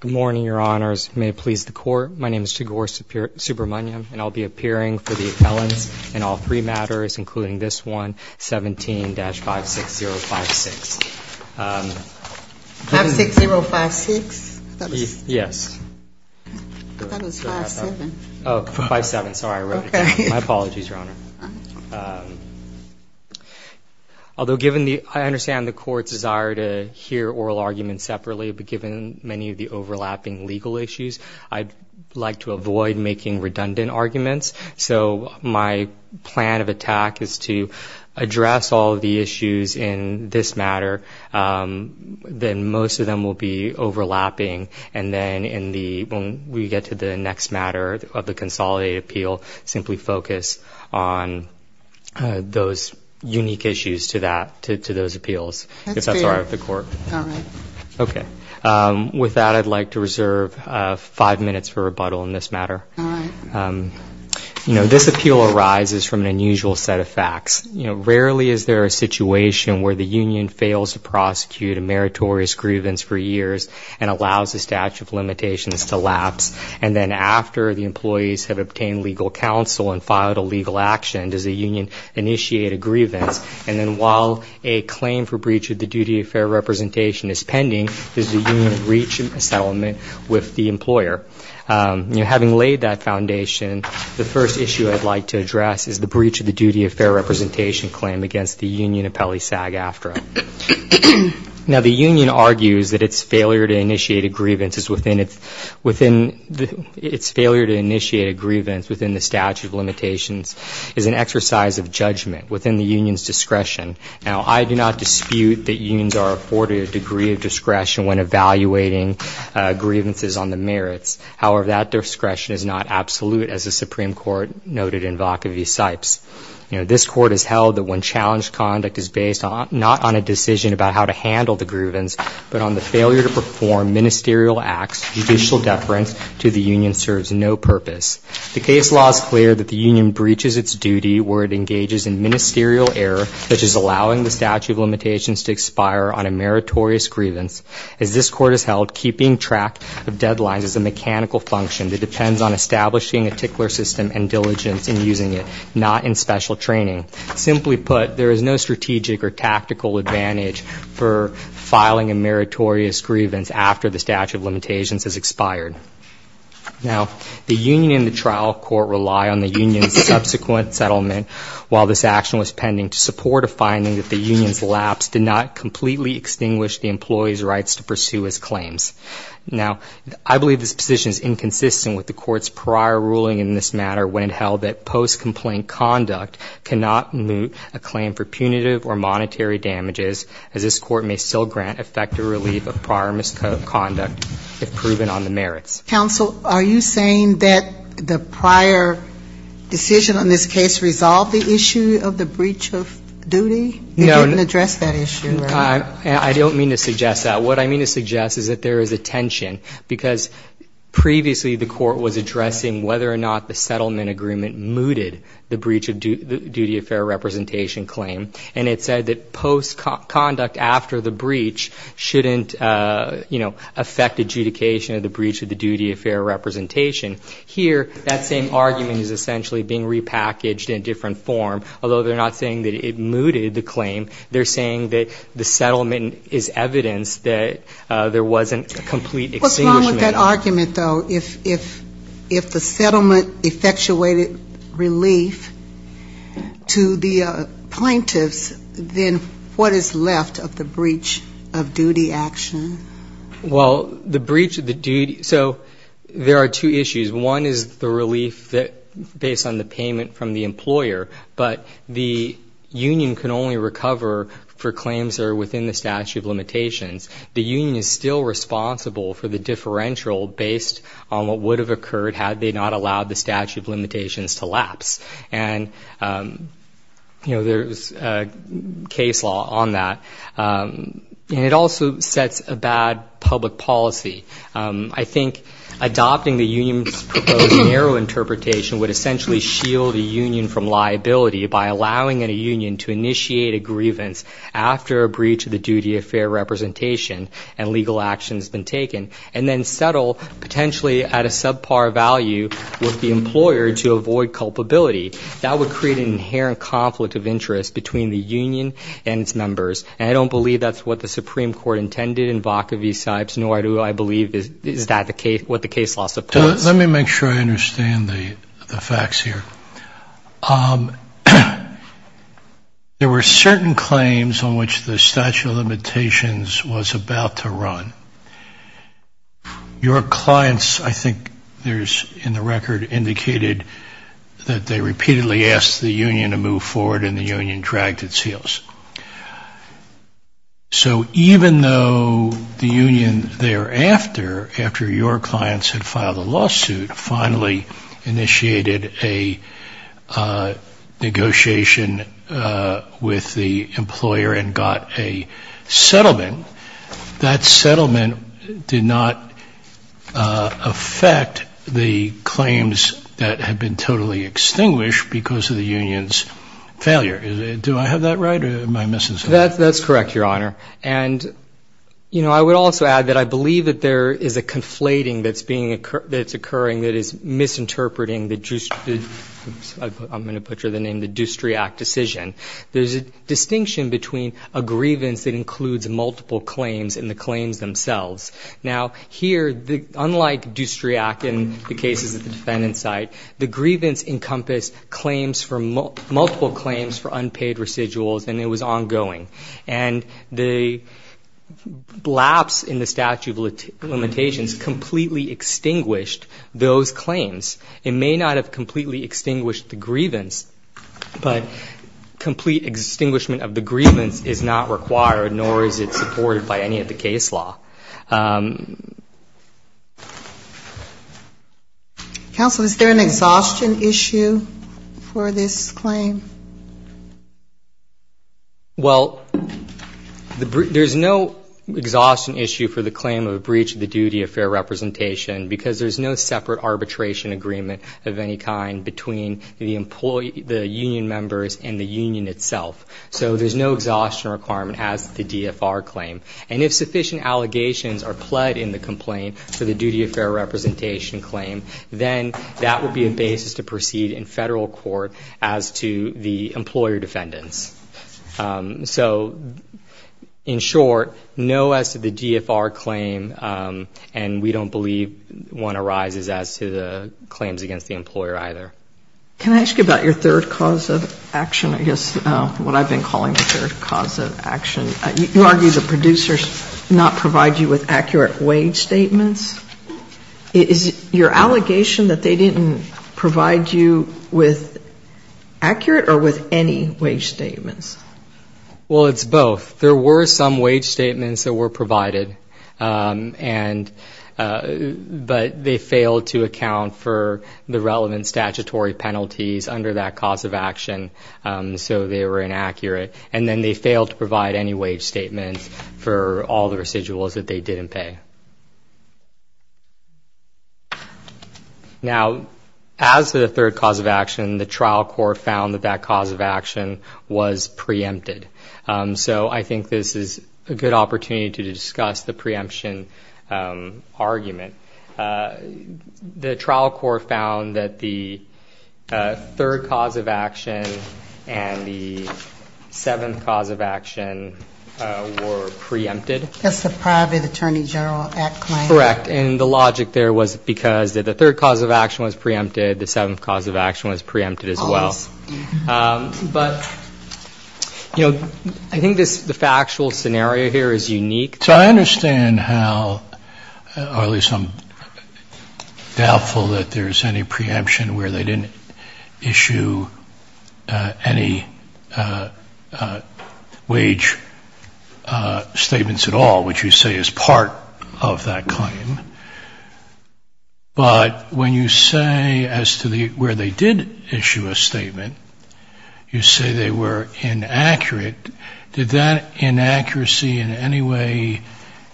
Good morning, Your Honors. May it please the Court, my name is Chagor Subramaniam, and I'll be appearing for the appellants in all three matters, including this one, 17-56056. 56056? Yes. I thought it was 5-7. Oh, 5-7, sorry, I wrote it down. My apologies, Your Honor. Although I understand the Court's desire to hear oral arguments separately, but given many of the overlapping legal issues, I'd like to avoid making redundant arguments. So my plan of attack is to address all of the issues in this matter, then most of them will be overlapping, and then when we get to the next matter of the consolidated appeal, simply focus on those unique issues to those appeals, if that's all right with the Court. All right. Okay. With that, I'd like to reserve five minutes for rebuttal in this matter. All right. You know, this appeal arises from an unusual set of facts. You know, rarely is there a situation where the union fails to prosecute a meritorious grievance for years and allows the statute of limitations to lapse, and then after the employees have obtained legal counsel and filed a legal action, does the union initiate a grievance, and then while a claim for breach of the duty of fair representation is pending, does the union reach a settlement with the employer? You know, having laid that foundation, the first issue I'd like to address is the breach of the duty of fair representation claim against the union appellee SAG-AFTRA. Now, the union argues that its failure to initiate a grievance within the statute of limitations is an exercise of judgment within the union's discretion. Now, I do not dispute that unions are afforded a degree of discretion when evaluating grievances on the merits. However, that discretion is not absolute, as the Supreme Court noted in Vacaville-Sipes. You know, this Court has held that when challenged conduct is based not on a decision about how to handle the grievance, but on the failure to perform ministerial acts, judicial deference to the union serves no purpose. The case law is clear that the union breaches its duty where it engages in ministerial error, such as allowing the statute of limitations to expire on a meritorious grievance. As this Court has held, keeping track of deadlines is a mechanical function that depends on establishing a tickler system and diligence in using it, not in special training. Simply put, there is no strategic or tactical advantage for filing a meritorious grievance after the statute of limitations has expired. Now, the union and the trial court rely on the union's subsequent settlement while this action was pending to support a finding that the union's lapse did not completely extinguish the employee's rights to pursue his claims. Now, I believe this position is inconsistent with the Court's prior ruling in this matter when it held that post-complaint conduct cannot moot a claim for punitive or monetary damages, as this Court may still grant effective relief of prior misconduct if proven on the merits. Sotomayor, are you saying that the prior decision on this case resolved the issue of the breach of duty? No. It didn't address that issue, right? I don't mean to suggest that. What I mean to suggest is that there is a tension, because previously the Court was addressing whether or not the settlement agreement mooted the breach of duty of fair representation claim. And it said that post-conduct after the breach shouldn't, you know, affect adjudication of the breach of the duty of fair representation. Here, that same argument is essentially being repackaged in a different form, although they're not saying that it mooted the claim. They're saying that the settlement is evidence that there wasn't a complete extinguishment. Even with that argument, though, if the settlement effectuated relief to the plaintiffs, then what is left of the breach of duty action? Well, the breach of the duty, so there are two issues. One is the relief based on the payment from the employer, but the union can only recover for claims that are within the statute of limitations. The union is still responsible for the differential based on what would have occurred had they not allowed the statute of limitations to lapse. And, you know, there's case law on that. And it also sets a bad public policy. I think adopting the union's proposed narrow interpretation would essentially shield a union from liability by allowing a union to initiate a grievance after a breach of the duty of fair representation and legal action has been taken, and then settle potentially at a subpar value with the employer to avoid culpability. That would create an inherent conflict of interest between the union and its members. And I don't believe that's what the Supreme Court intended in Vaca v. Sipes, nor do I believe is that what the case law supports. Let me make sure I understand the facts here. There were certain claims on which the statute of limitations was about to run. Your clients, I think there's in the record indicated that they repeatedly asked the union to move forward, and the union dragged its heels. So even though the union thereafter, after your clients had filed a lawsuit, finally initiated a negotiation with the employer and got a settlement, that settlement was not a settlement. That settlement did not affect the claims that had been totally extinguished because of the union's failure. Do I have that right, or am I missing something? That's correct, Your Honor. And, you know, I would also add that I believe that there is a conflating that's occurring that is misinterpreting the juicery act decision. There's a distinction between a grievance that includes multiple claims and the claims themselves. Now, here, unlike Doustriac in the cases at the defendant's side, the grievance encompassed multiple claims for unpaid residuals, and it was ongoing. And the lapse in the statute of limitations completely extinguished those claims. It may not have completely extinguished the grievance, but complete extinguishment of the grievance is not required, nor is it supported by any of the case law. Counsel, is there an exhaustion issue for this claim? Well, there's no exhaustion issue for the claim of a breach of the duty of fair representation, because there's no separate arbitration agreement. There's no agreement of any kind between the union members and the union itself. So there's no exhaustion requirement as to the DFR claim. And if sufficient allegations are pled in the complaint for the duty of fair representation claim, then that would be a basis to proceed in federal court as to the employer defendants. So, in short, no as to the DFR claim, and we don't believe one arises as to the claim of a breach of the duty of fair representation. Can I ask you about your third cause of action, I guess, what I've been calling the third cause of action? You argue the producers not provide you with accurate wage statements. Is your allegation that they didn't provide you with accurate or with any wage statements? Well, it's both. There were some wage statements that were provided, but they failed to account for the relevant statutory penalties under that cause of action, so they were inaccurate. And then they failed to provide any wage statements for all the residuals that they didn't pay. Now, as to the third cause of action, the trial court found that that cause of action was preempted. So I think this is a good opportunity to discuss the preemption argument. The trial court found that the third cause of action and the seventh cause of action were preempted. That's the private attorney general act claim. Correct, and the logic there was because the third cause of action was preempted, the seventh cause of action was preempted as well. So I think this, the factual scenario here is unique. So I understand how, or at least I'm doubtful that there's any preemption where they didn't issue any wage statements at all, which you say is part of that claim. But when you say as to where they did issue a statement, you say they were inaccurate, did that inaccuracy in any way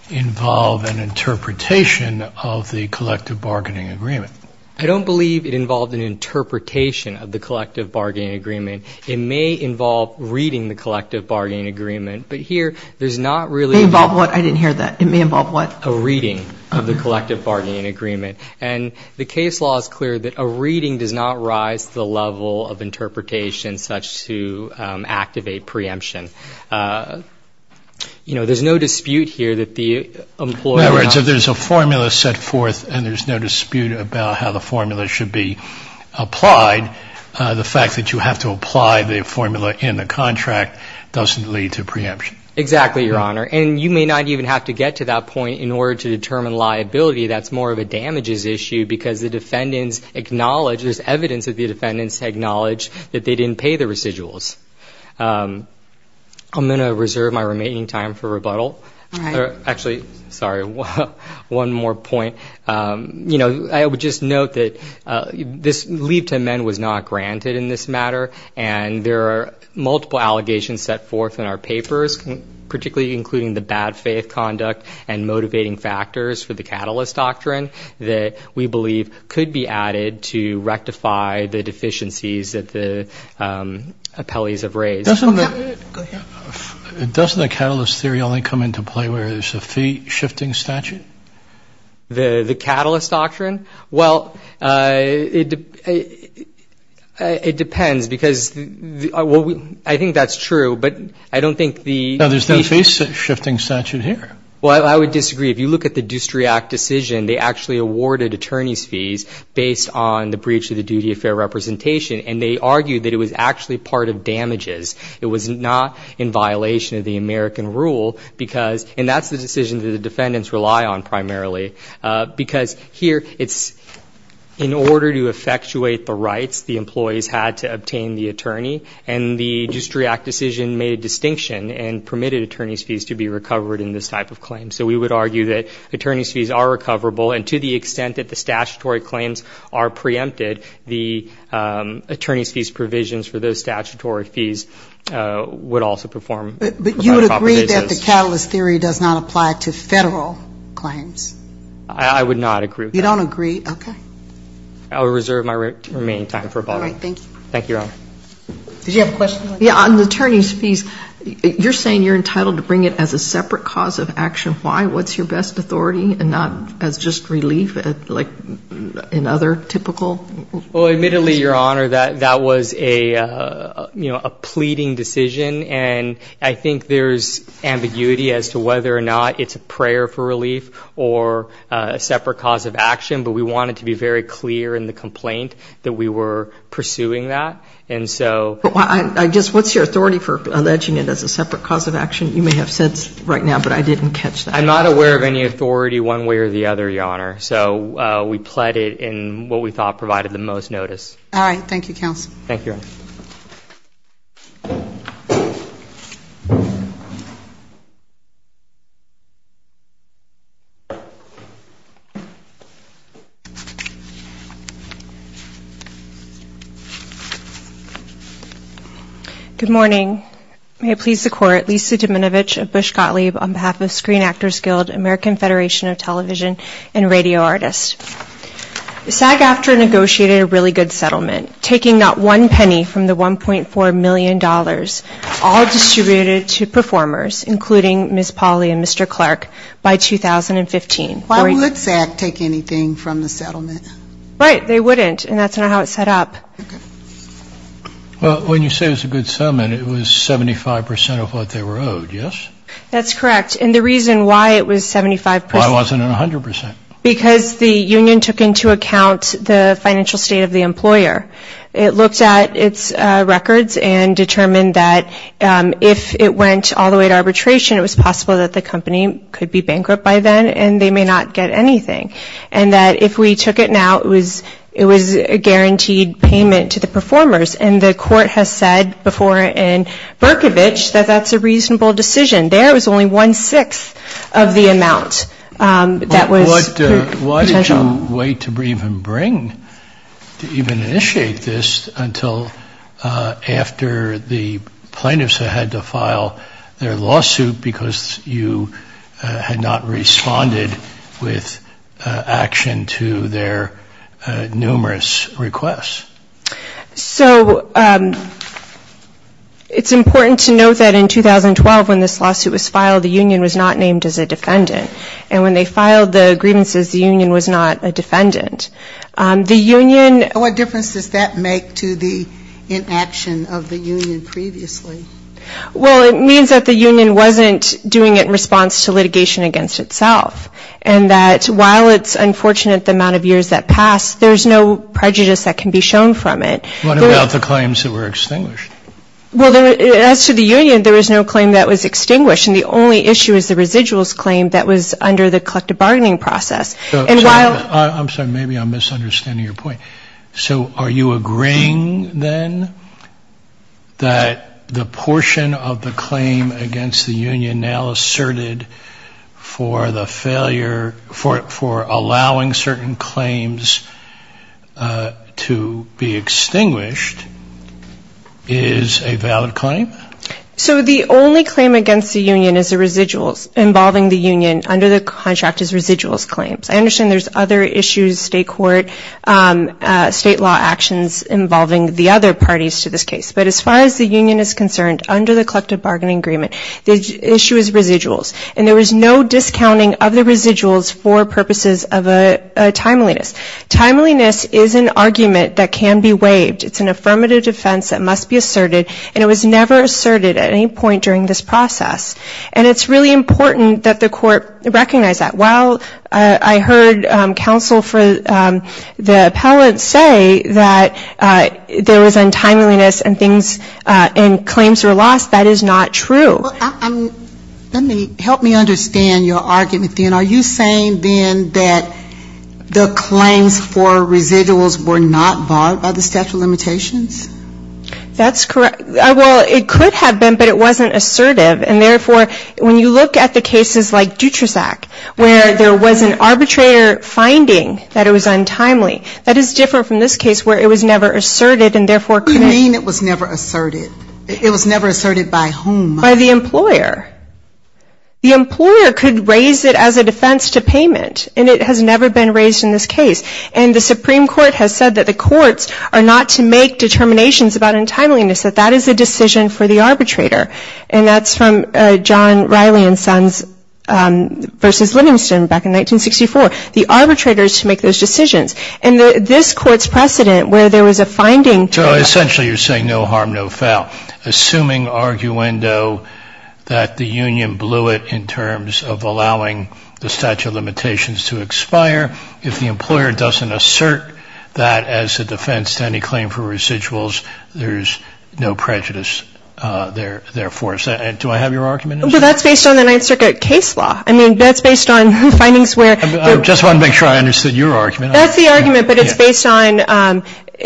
involve an interpretation of the collective bargaining agreement? I don't believe it involved an interpretation of the collective bargaining agreement. It may involve reading the collective bargaining agreement, but here there's not really a reading of the collective bargaining agreement. And the case law is clear that a reading does not rise to the level of interpretation such to activate preemption. You know, there's no dispute here that the employer... In other words, if there's a formula set forth and there's no dispute about how the formula should be applied, the fact that you have to apply the formula in the contract doesn't lead to preemption. Exactly, Your Honor, and you may not even have to get to that point in order to determine liability. That's more of a damages issue because the defendants acknowledge, there's evidence that the defendants acknowledge that they didn't pay the residuals. I'm going to reserve my remaining time for rebuttal. Actually, sorry, one more point. You know, I would just note that this leave to amend was not granted in this matter, and there are multiple allegations set forth in our papers, particularly including the bad faith conduct and motivating factors for the catalyst doctrine that we believe could be added to rectify the deficiencies that the appellees have raised. Doesn't the catalyst theory only come into play where there's a fee-shifting statute? The catalyst doctrine? Well, it depends because, well, I think that's true, but I don't think the... No, there's no fee-shifting statute here. Well, I would disagree. If you look at the Dustriac decision, they actually awarded attorney's fees based on the breach of the duty of fair representation, and they argued that it was actually part of damages. It was not in violation of the American rule because, and that's the decision that the defendants rely on primarily, because here it's in order to effectuate the rights the employees had to obtain the attorney, and the Dustriac decision made a distinction and permitted attorney's fees to be recovered in this type of case. So we would argue that attorney's fees are recoverable, and to the extent that the statutory claims are preempted, the attorney's fees provisions for those statutory fees would also perform. But you would agree that the catalyst theory does not apply to Federal claims? I would not agree with that. You don't agree? Okay. I would reserve my remaining time for a bottle. All right. Thank you. Thank you, Your Honor. Did you have a question? Yeah, on the attorney's fees, you're saying you're entitled to bring it as a separate cause of action. Why? What's your best authority, and not as just relief, like in other typical... Well, admittedly, Your Honor, that was a pleading decision, and I think there's ambiguity as to whether or not it's a prayer for relief or a separate cause of action, but we want it to be very clear. And the complaint that we were pursuing that, and so... I guess, what's your authority for alleging it as a separate cause of action? You may have sense right now, but I didn't catch that. I'm not aware of any authority one way or the other, Your Honor. So we pled it in what we thought provided the most notice. All right. Thank you, counsel. Good morning. May it please the Court, Lisa Deminovich of Bush Gottlieb on behalf of Screen Actors Guild, American Federation of Television and Radio Artists. SAG-AFTRA negotiated a really good settlement, taking not one penny from the $1.4 million, all distributed to performers, including Ms. Pauley and Mr. Clark, by 2015. Why would SAG take anything from the settlement? Right, they wouldn't, and that's not how it set up. Well, when you say it was a good settlement, it was 75% of what they were owed, yes? That's correct, and the reason why it was 75%... Why wasn't it 100%? Because the union took into account the financial state of the employer. It looked at its records and determined that if it went all the way to arbitration, it was possible that the company could be bankrupt by then, and they may not get anything. And that if we took it now, it was a guaranteed payment to the performers. And the Court has said before in Berkovich that that's a reasonable decision. There was only one-sixth of the amount that was potential. Why did you wait to even bring, to even initiate this, until after the plaintiffs had to file their lawsuit because you had not responded with action to their numerous requests? So it's important to note that in 2012, when this lawsuit was filed, the union was not named as a defendant. And when they filed the grievances, the union was not a defendant. And what difference does that make to the inaction of the union previously? Well, it means that the union wasn't doing it in response to litigation against itself, and that while it's unfortunate the amount of years that passed, there's no prejudice that can be shown against the union. What about the claims that were extinguished? Well, as to the union, there was no claim that was extinguished, and the only issue is the residuals claim that was under the collective bargaining process. And while... I'm sorry, maybe I'm misunderstanding your point. So are you agreeing, then, that the portion of the claim against the union now asserted for the failure, for allowing certain claims to be used against the union? So the only claim against the union is the residuals, involving the union under the contract is residuals claims. I understand there's other issues, state court, state law actions involving the other parties to this case. But as far as the union is concerned, under the collective bargaining agreement, the issue is residuals. And there was no discounting of the residuals for purposes of timeliness. Timeliness is an argument that can be waived. It's an affirmative defense that must be asserted, and it was never asserted at any point during this process. And it's really important that the court recognize that. While I heard counsel for the appellate say that there was untimeliness and things, and claims were lost, that is not true. Well, let me, help me understand your argument, then. Are you saying, then, that the claims for residuals were not barred by the statute of limitations? That's correct. Well, it could have been, but it wasn't assertive. And therefore, when you look at the cases like Dutrasac, where there was an arbitrator finding that it was untimely, that is different from this case, where it was never asserted, and therefore could be... You mean it was never asserted? It was never asserted by whom? By the employer. The employer could raise it as a defense to payment, and it has never been raised in this case. And the Supreme Court has said that the courts are not to make determinations about untimeliness, that that is a decision for the arbitrator. And that's from John Riley and Sons v. Livingston back in 1964. The arbitrator is to make those decisions. And this Court's precedent, where there was a finding... So essentially, you're saying no harm, no foul. Assuming arguendo that the union blew it in terms of allowing the statute of limitations to expire, if the employer doesn't assert that as a defense to any claim for residuals, there's no prejudice, therefore. Do I have your argument? Well, that's based on the Ninth Circuit case law. I mean, that's based on findings where... I just want to make sure I understood your argument. That's the argument, but it's based on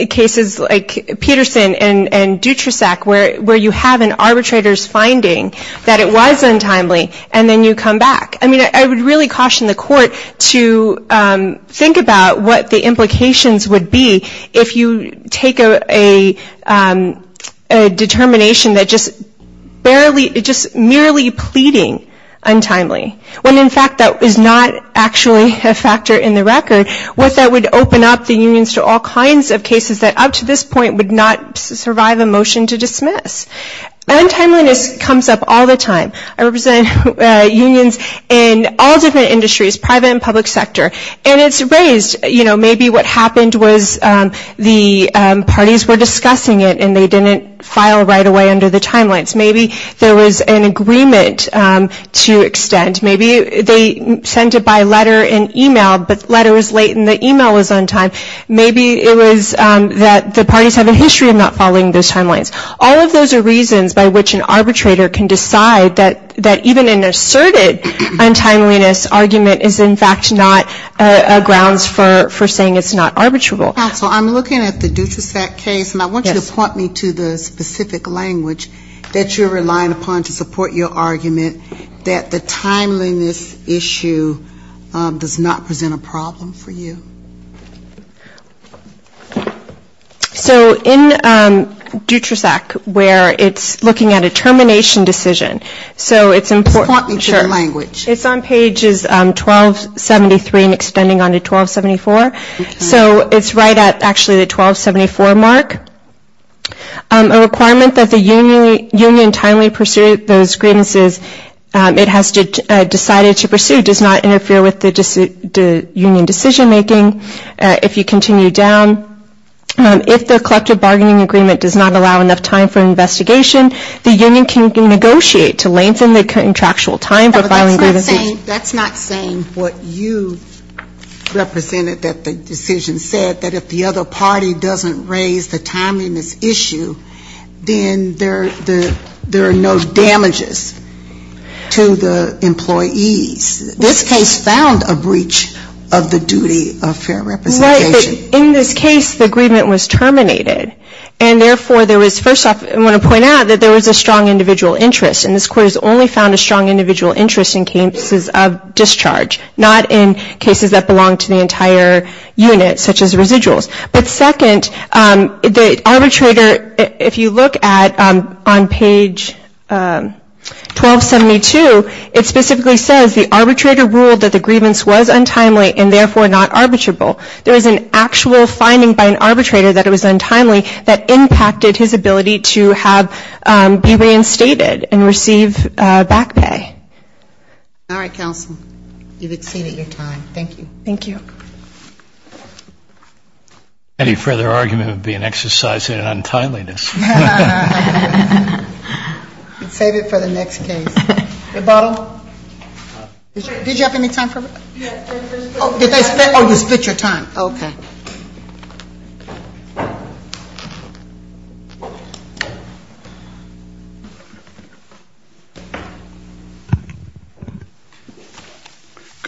cases like Peterson and Dutrasack, where you have an arbitrator's finding that it was untimely, and then you come back. I mean, I would really caution the Court to think about what the implications would be if you take a determination that just merely pleading untimely, when in fact that is not actually a factor in the record, what that would open up the unions to all kinds of cases that up to this point would not survive a motion to dismiss. Untimeliness comes up all the time. I represent unions in all different industries, private and public sector, and it's raised, you know, maybe what happened was the parties were discussing it and they didn't file right away under the timelines. Maybe there was an agreement to extend. Maybe they sent it by letter and e-mail, but the letter was late and the e-mail was on time. Maybe it was that the parties have a history of not following those timelines. All of those are reasons by which an arbitrator can decide that even an asserted untimeliness argument is in fact not grounds for saying it's not arbitrable. So I'm looking at the Dutrasack case, and I want you to point me to the specific language that you're relying upon to support your argument that the timeliness issue does not present a problem for you. So in Dutrasack, where it's looking at a termination decision, so it's important. It's on pages 1273 and extending on to 1274. So it's right at actually the 1274 mark. A requirement that the union timely pursue those grievances it has decided to pursue does not interfere with the union decision making. If you continue down, if the collective bargaining agreement does not allow enough time for investigation, the union can negotiate to lengthen the contractual time for filing grievances. That's not saying what you represented that the decision said, that if the other party doesn't raise the timeliness issue, then there are no damages to the employees. This case found a breach of the duty of fair representation. In this case the agreement was terminated, and therefore there was first off I want to point out that there was a strong individual interest, and this court has only found a strong individual interest in cases of discharge, not in cases that belong to the entire unit such as residuals. But second, the arbitrator, if you look at on page 1272, it specifically says the arbitrator ruled that the grievance was untimely and therefore not arbitrable. There was an actual finding by an arbitrator that it was untimely that impacted his ability to be reinstated and receive back pay. All right, counsel. You've exceeded your time. Thank you. Thank you. Any further argument would be an exercise in untimeliness. Save it for the next case. Rebuttal. Good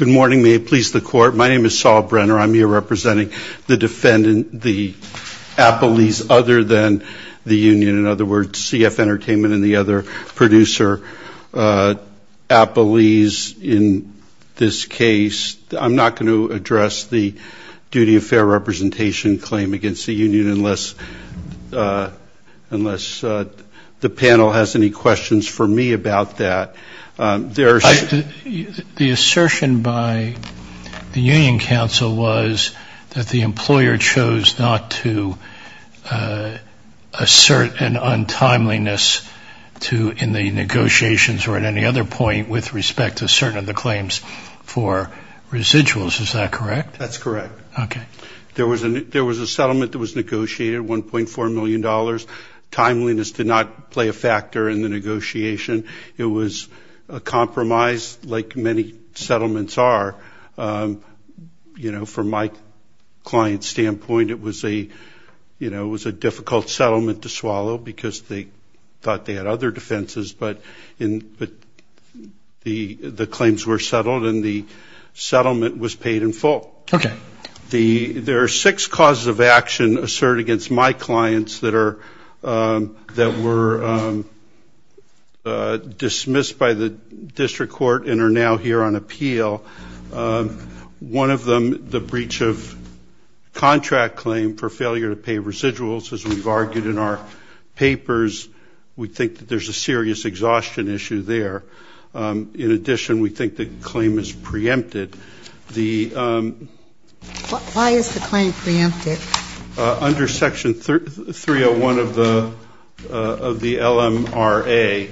morning. May it please the court. My name is Saul Brenner. I'm here representing the defendant, the appellees other than the union. In other words, CF Entertainment and the other producer appellees in this case. I'm not going to address the duty of fair representation claim against the union unless the panel has any debate about that. The assertion by the union counsel was that the employer chose not to assert an untimeliness in the negotiations or at any other point with respect to certain of the claims for residuals. Is that correct? That's correct. There was a settlement that was negotiated, $1.4 million. Timeliness did not play a factor in the negotiation. It was a compromise like many settlements are. From my client's standpoint, it was a difficult settlement to swallow because they thought they had other defenses, but the claims were settled and the settlement was paid in full. There are six causes of action assert against my clients that were dismissed by the district court and are now here on appeal. One of them, the breach of contract claim for failure to pay residuals, as we've argued in our papers. We think that there's a serious exhaustion issue there. In addition, we think the claim is preempted. Why is the claim preempted? Under section 301 of the LMRA,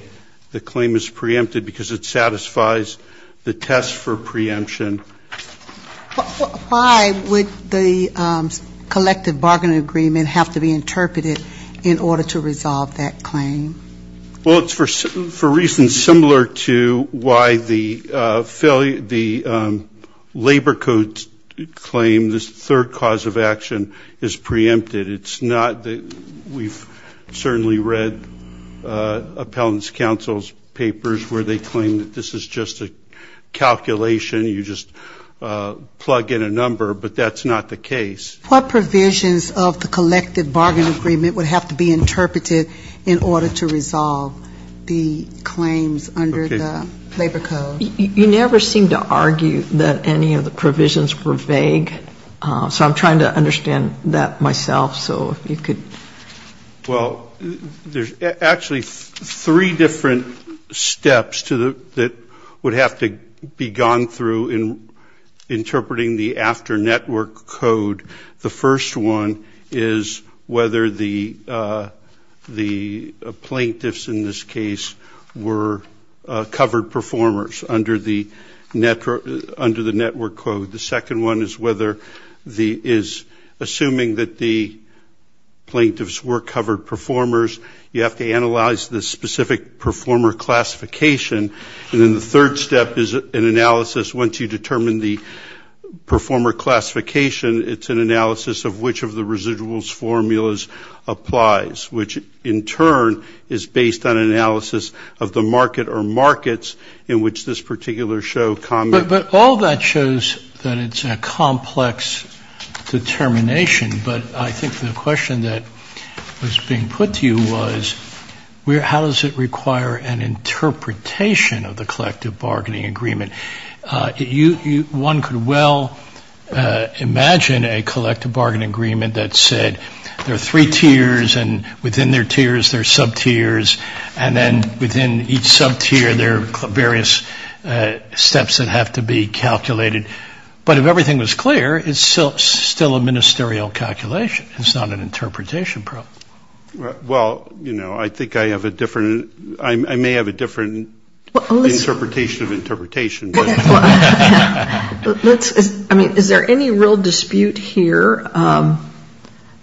the claim is preempted because it satisfies the test for preemption. Why would the collective bargaining agreement have to be interpreted in order to resolve that claim? Well, it's for reasons similar to why the failure to pay residuals is preempted. Labor codes claim this third cause of action is preempted. It's not that we've certainly read appellant's counsel's papers where they claim that this is just a calculation, you just plug in a number, but that's not the case. What provisions of the collective bargaining agreement would have to be interpreted in order to resolve the claims under the labor code? You never seem to argue that any of the provisions were vague, so I'm trying to understand that myself, so if you could. Well, there's actually three different steps that would have to be gone through in interpreting the after-network code. The first one is whether the plaintiffs in this case were preempted. They were covered performers under the network code. The second one is assuming that the plaintiffs were covered performers. You have to analyze the specific performer classification, and then the third step is an analysis. Once you determine the performer classification, it's an analysis of which of the residuals formulas applies, which in turn is based on analysis of the market or markets in which this particular show comments. But all that shows that it's a complex determination, but I think the question that was being put to you was, how does it require an interpretation of the collective bargaining agreement? One could well imagine a collective bargaining agreement that said there are three tiers, and we're going to look at each of the three tiers. Within their tiers, there are sub-tiers, and then within each sub-tier, there are various steps that have to be calculated. But if everything was clear, it's still a ministerial calculation. It's not an interpretation problem. Well, you know, I think I have a different, I may have a different interpretation of interpretation. Is there any real dispute here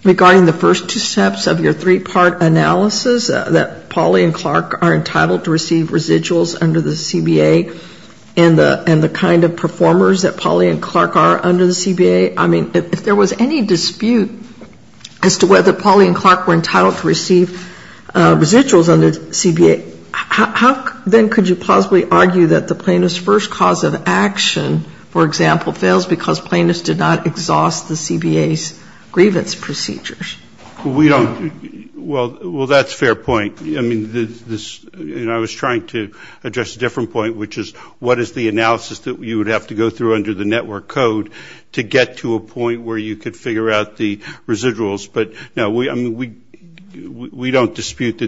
regarding the first two steps of your three-part analysis, that Pauli and Clark are entitled to receive residuals under the CBA, and the kind of performers that Pauli and Clark are under the CBA? I mean, if there was any dispute as to whether Pauli and Clark were entitled to receive residuals under the CBA, how then could you possibly argue that the plaintiff's first cause of action, for example, fails because plaintiffs did not exhaust the CBA's grievance procedures? Well, that's a fair point. I mean, I was trying to address a different point, which is, what is the analysis that you would have to go through under the network code to get to a point where you could figure out the residuals? But no, we don't dispute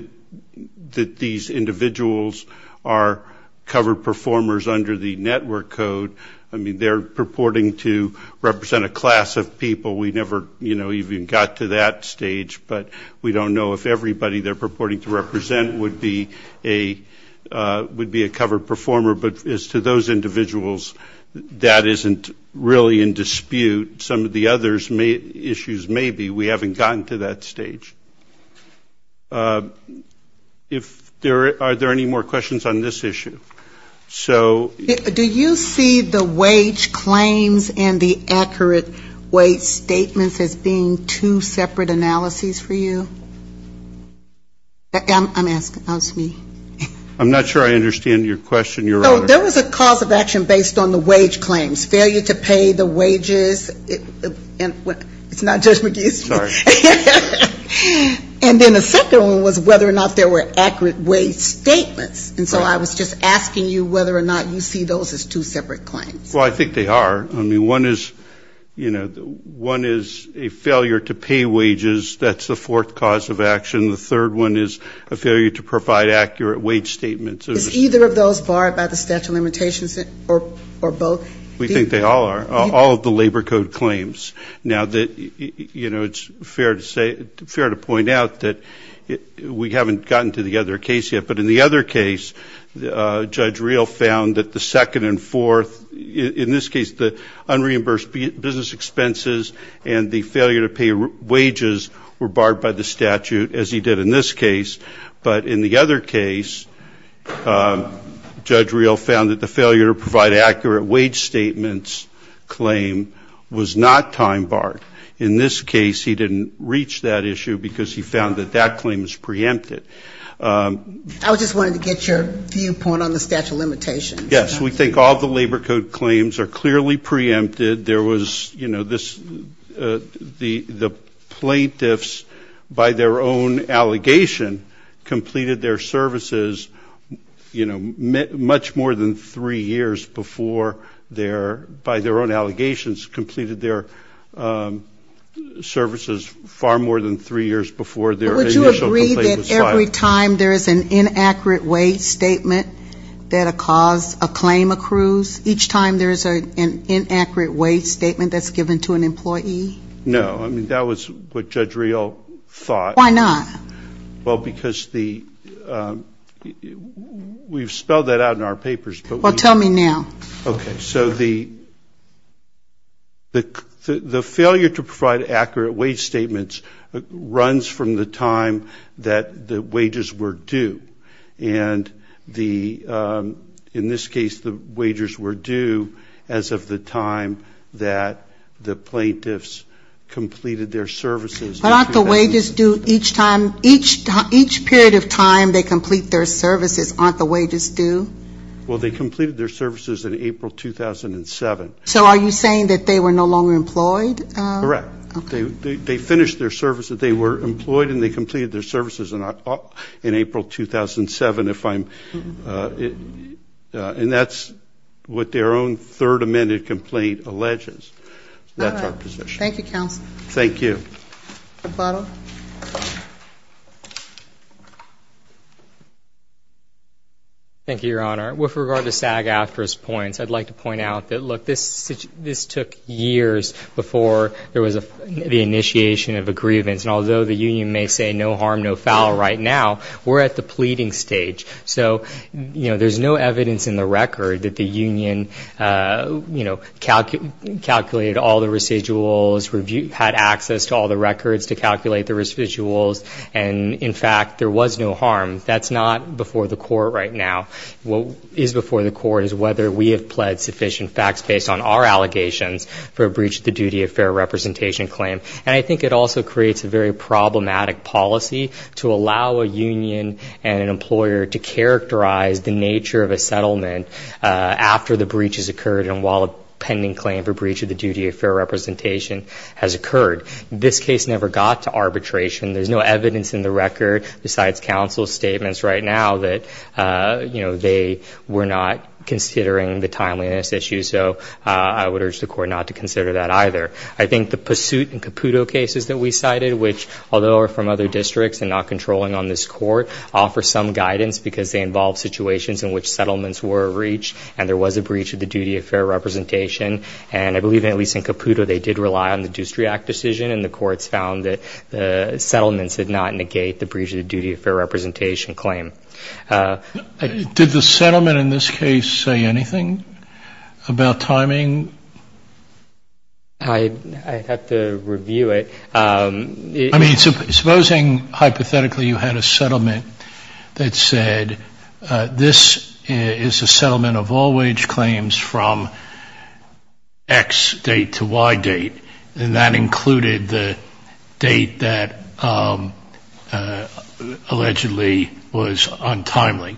that these individuals are covered performers under the network code. I mean, they're purporting to represent a class of people. We never even got to that. But we don't know if everybody they're purporting to represent would be a covered performer. But as to those individuals, that isn't really in dispute. Some of the other issues may be. We haven't gotten to that stage. Are there any more questions on this issue? Do you see the wage claims and the accurate wage statements as being two separate analysis? I'm asking. I'm not sure I understand your question, Your Honor. There was a cause of action based on the wage claims, failure to pay the wages. And then a second one was whether or not there were accurate wage statements. And so I was just asking you whether or not you see those as two separate claims. Well, I think they are. I mean, one is, you know, one is a failure to pay wages. That's the fourth cause of action. The third one is a failure to provide accurate wage statements. Is either of those barred by the statute of limitations or both? We think they all are, all of the labor code claims. Now that, you know, it's fair to say, fair to point out that we haven't gotten to the other case yet. But in the other case, Judge Reel found that the second and fourth, in this case, the unreimbursed business expenses and the failure to pay wages were barred by the statute, as he did in this case. But in the other case, Judge Reel found that the failure to provide accurate wage statements claim was not tied to the time barred. In this case, he didn't reach that issue because he found that that claim was preempted. I just wanted to get your viewpoint on the statute of limitations. Yes, we think all the labor code claims are clearly preempted. There was, you know, the plaintiffs, by their own allegation, completed their services, you know, much more than three years before their, by their own allegations, completed their services far more than three years before their initial complaint was filed. But would you agree that every time there is an inaccurate wage statement that a cause, a claim accrues, each time there is an inaccurate wage statement that's given to an employee? No. I mean, that was what Judge Reel thought. Why not? Well, because the, we've spelled that out in our papers. Well, tell me now. Okay. So the failure to provide accurate wage statements runs from the time that the wages were due. And the, in this case, the wages were due as of the time that the plaintiffs completed their services. But aren't the wages due each time, each period of time they complete their services, aren't the wages due? Well, they completed their services in April 2007. So are you saying that they were no longer employed? Correct. They finished their services, they were employed and they completed their services in April 2007, if I'm, and that's what their own third amended complaint alleges. That's our position. Thank you, counsel. Thank you, Your Honor. With regard to SAG-AFTRA's points, I'd like to point out that, look, this took years before there was the initiation of a grievance. And although the union may say no harm, no foul right now, we're at the pleading stage. So, you know, there's no evidence in the record that the union, you know, calculated all the residuals, had access to all the records to calculate the residuals. And, in fact, there was no harm. That's not before the court right now. What is before the court is whether we have pled sufficient facts based on our allegations for a breach of the duty of fair representation claim. And I think it also creates a very problematic policy to allow a union and an employer to characterize the nature of a settlement after the breach has occurred and while a pending claim for breach of the duty of fair representation has occurred. This case never got to arbitration. There's no evidence in the record besides counsel's statements right now that, you know, they were not considering the timeliness issue. So I would urge the court not to consider that either. I think the Pursuit and Caputo cases that we cited, which although are from other districts and not controlling on this court, offer some guidance because they involve situations in which settlements were breached and there was a breach of the duty of fair representation. And I believe, at least in Caputo, they did rely on the Deucery Act decision and the courts found that the settlements did not negate the breach of the duty of fair representation claim. Did the settlement in this case say anything about timing? I'd have to review it. I mean, supposing hypothetically you had a settlement that said, this is a settlement of all wage claims from X date to Y date, and that included the date that allegedly was on the agenda. That's untimely.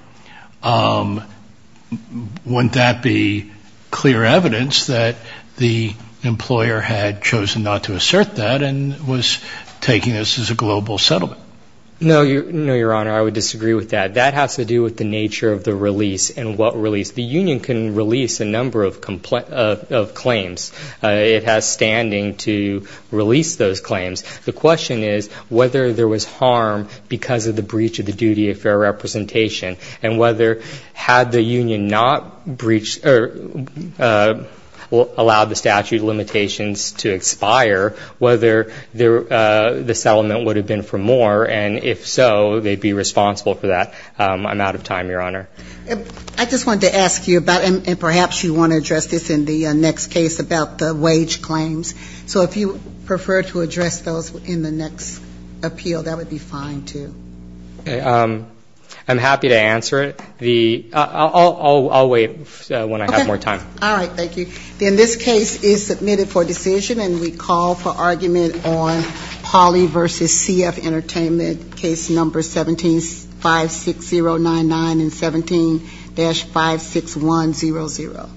Wouldn't that be clear evidence that the employer had chosen not to assert that and was taking this as a global settlement? No, Your Honor, I would disagree with that. That has to do with the nature of the release and what release. The union can release a number of claims. It has standing to release those claims. The question is whether there was harm because of the breach of the duty of fair representation, and whether had the union not allowed the statute of limitations to expire, whether the settlement would have been for more, and if so, they'd be responsible for that. I'm out of time, Your Honor. I just wanted to ask you about, and perhaps you want to address this in the next case about the wage claims. So if you prefer to address those in the next appeal, that would be fine, too. I'm happy to answer it. I'll wait when I have more time. All right. Thank you. Then this case is submitted for decision, and we call for argument on Polly v. CF Entertainment, case number 17-56099 and 17-56100.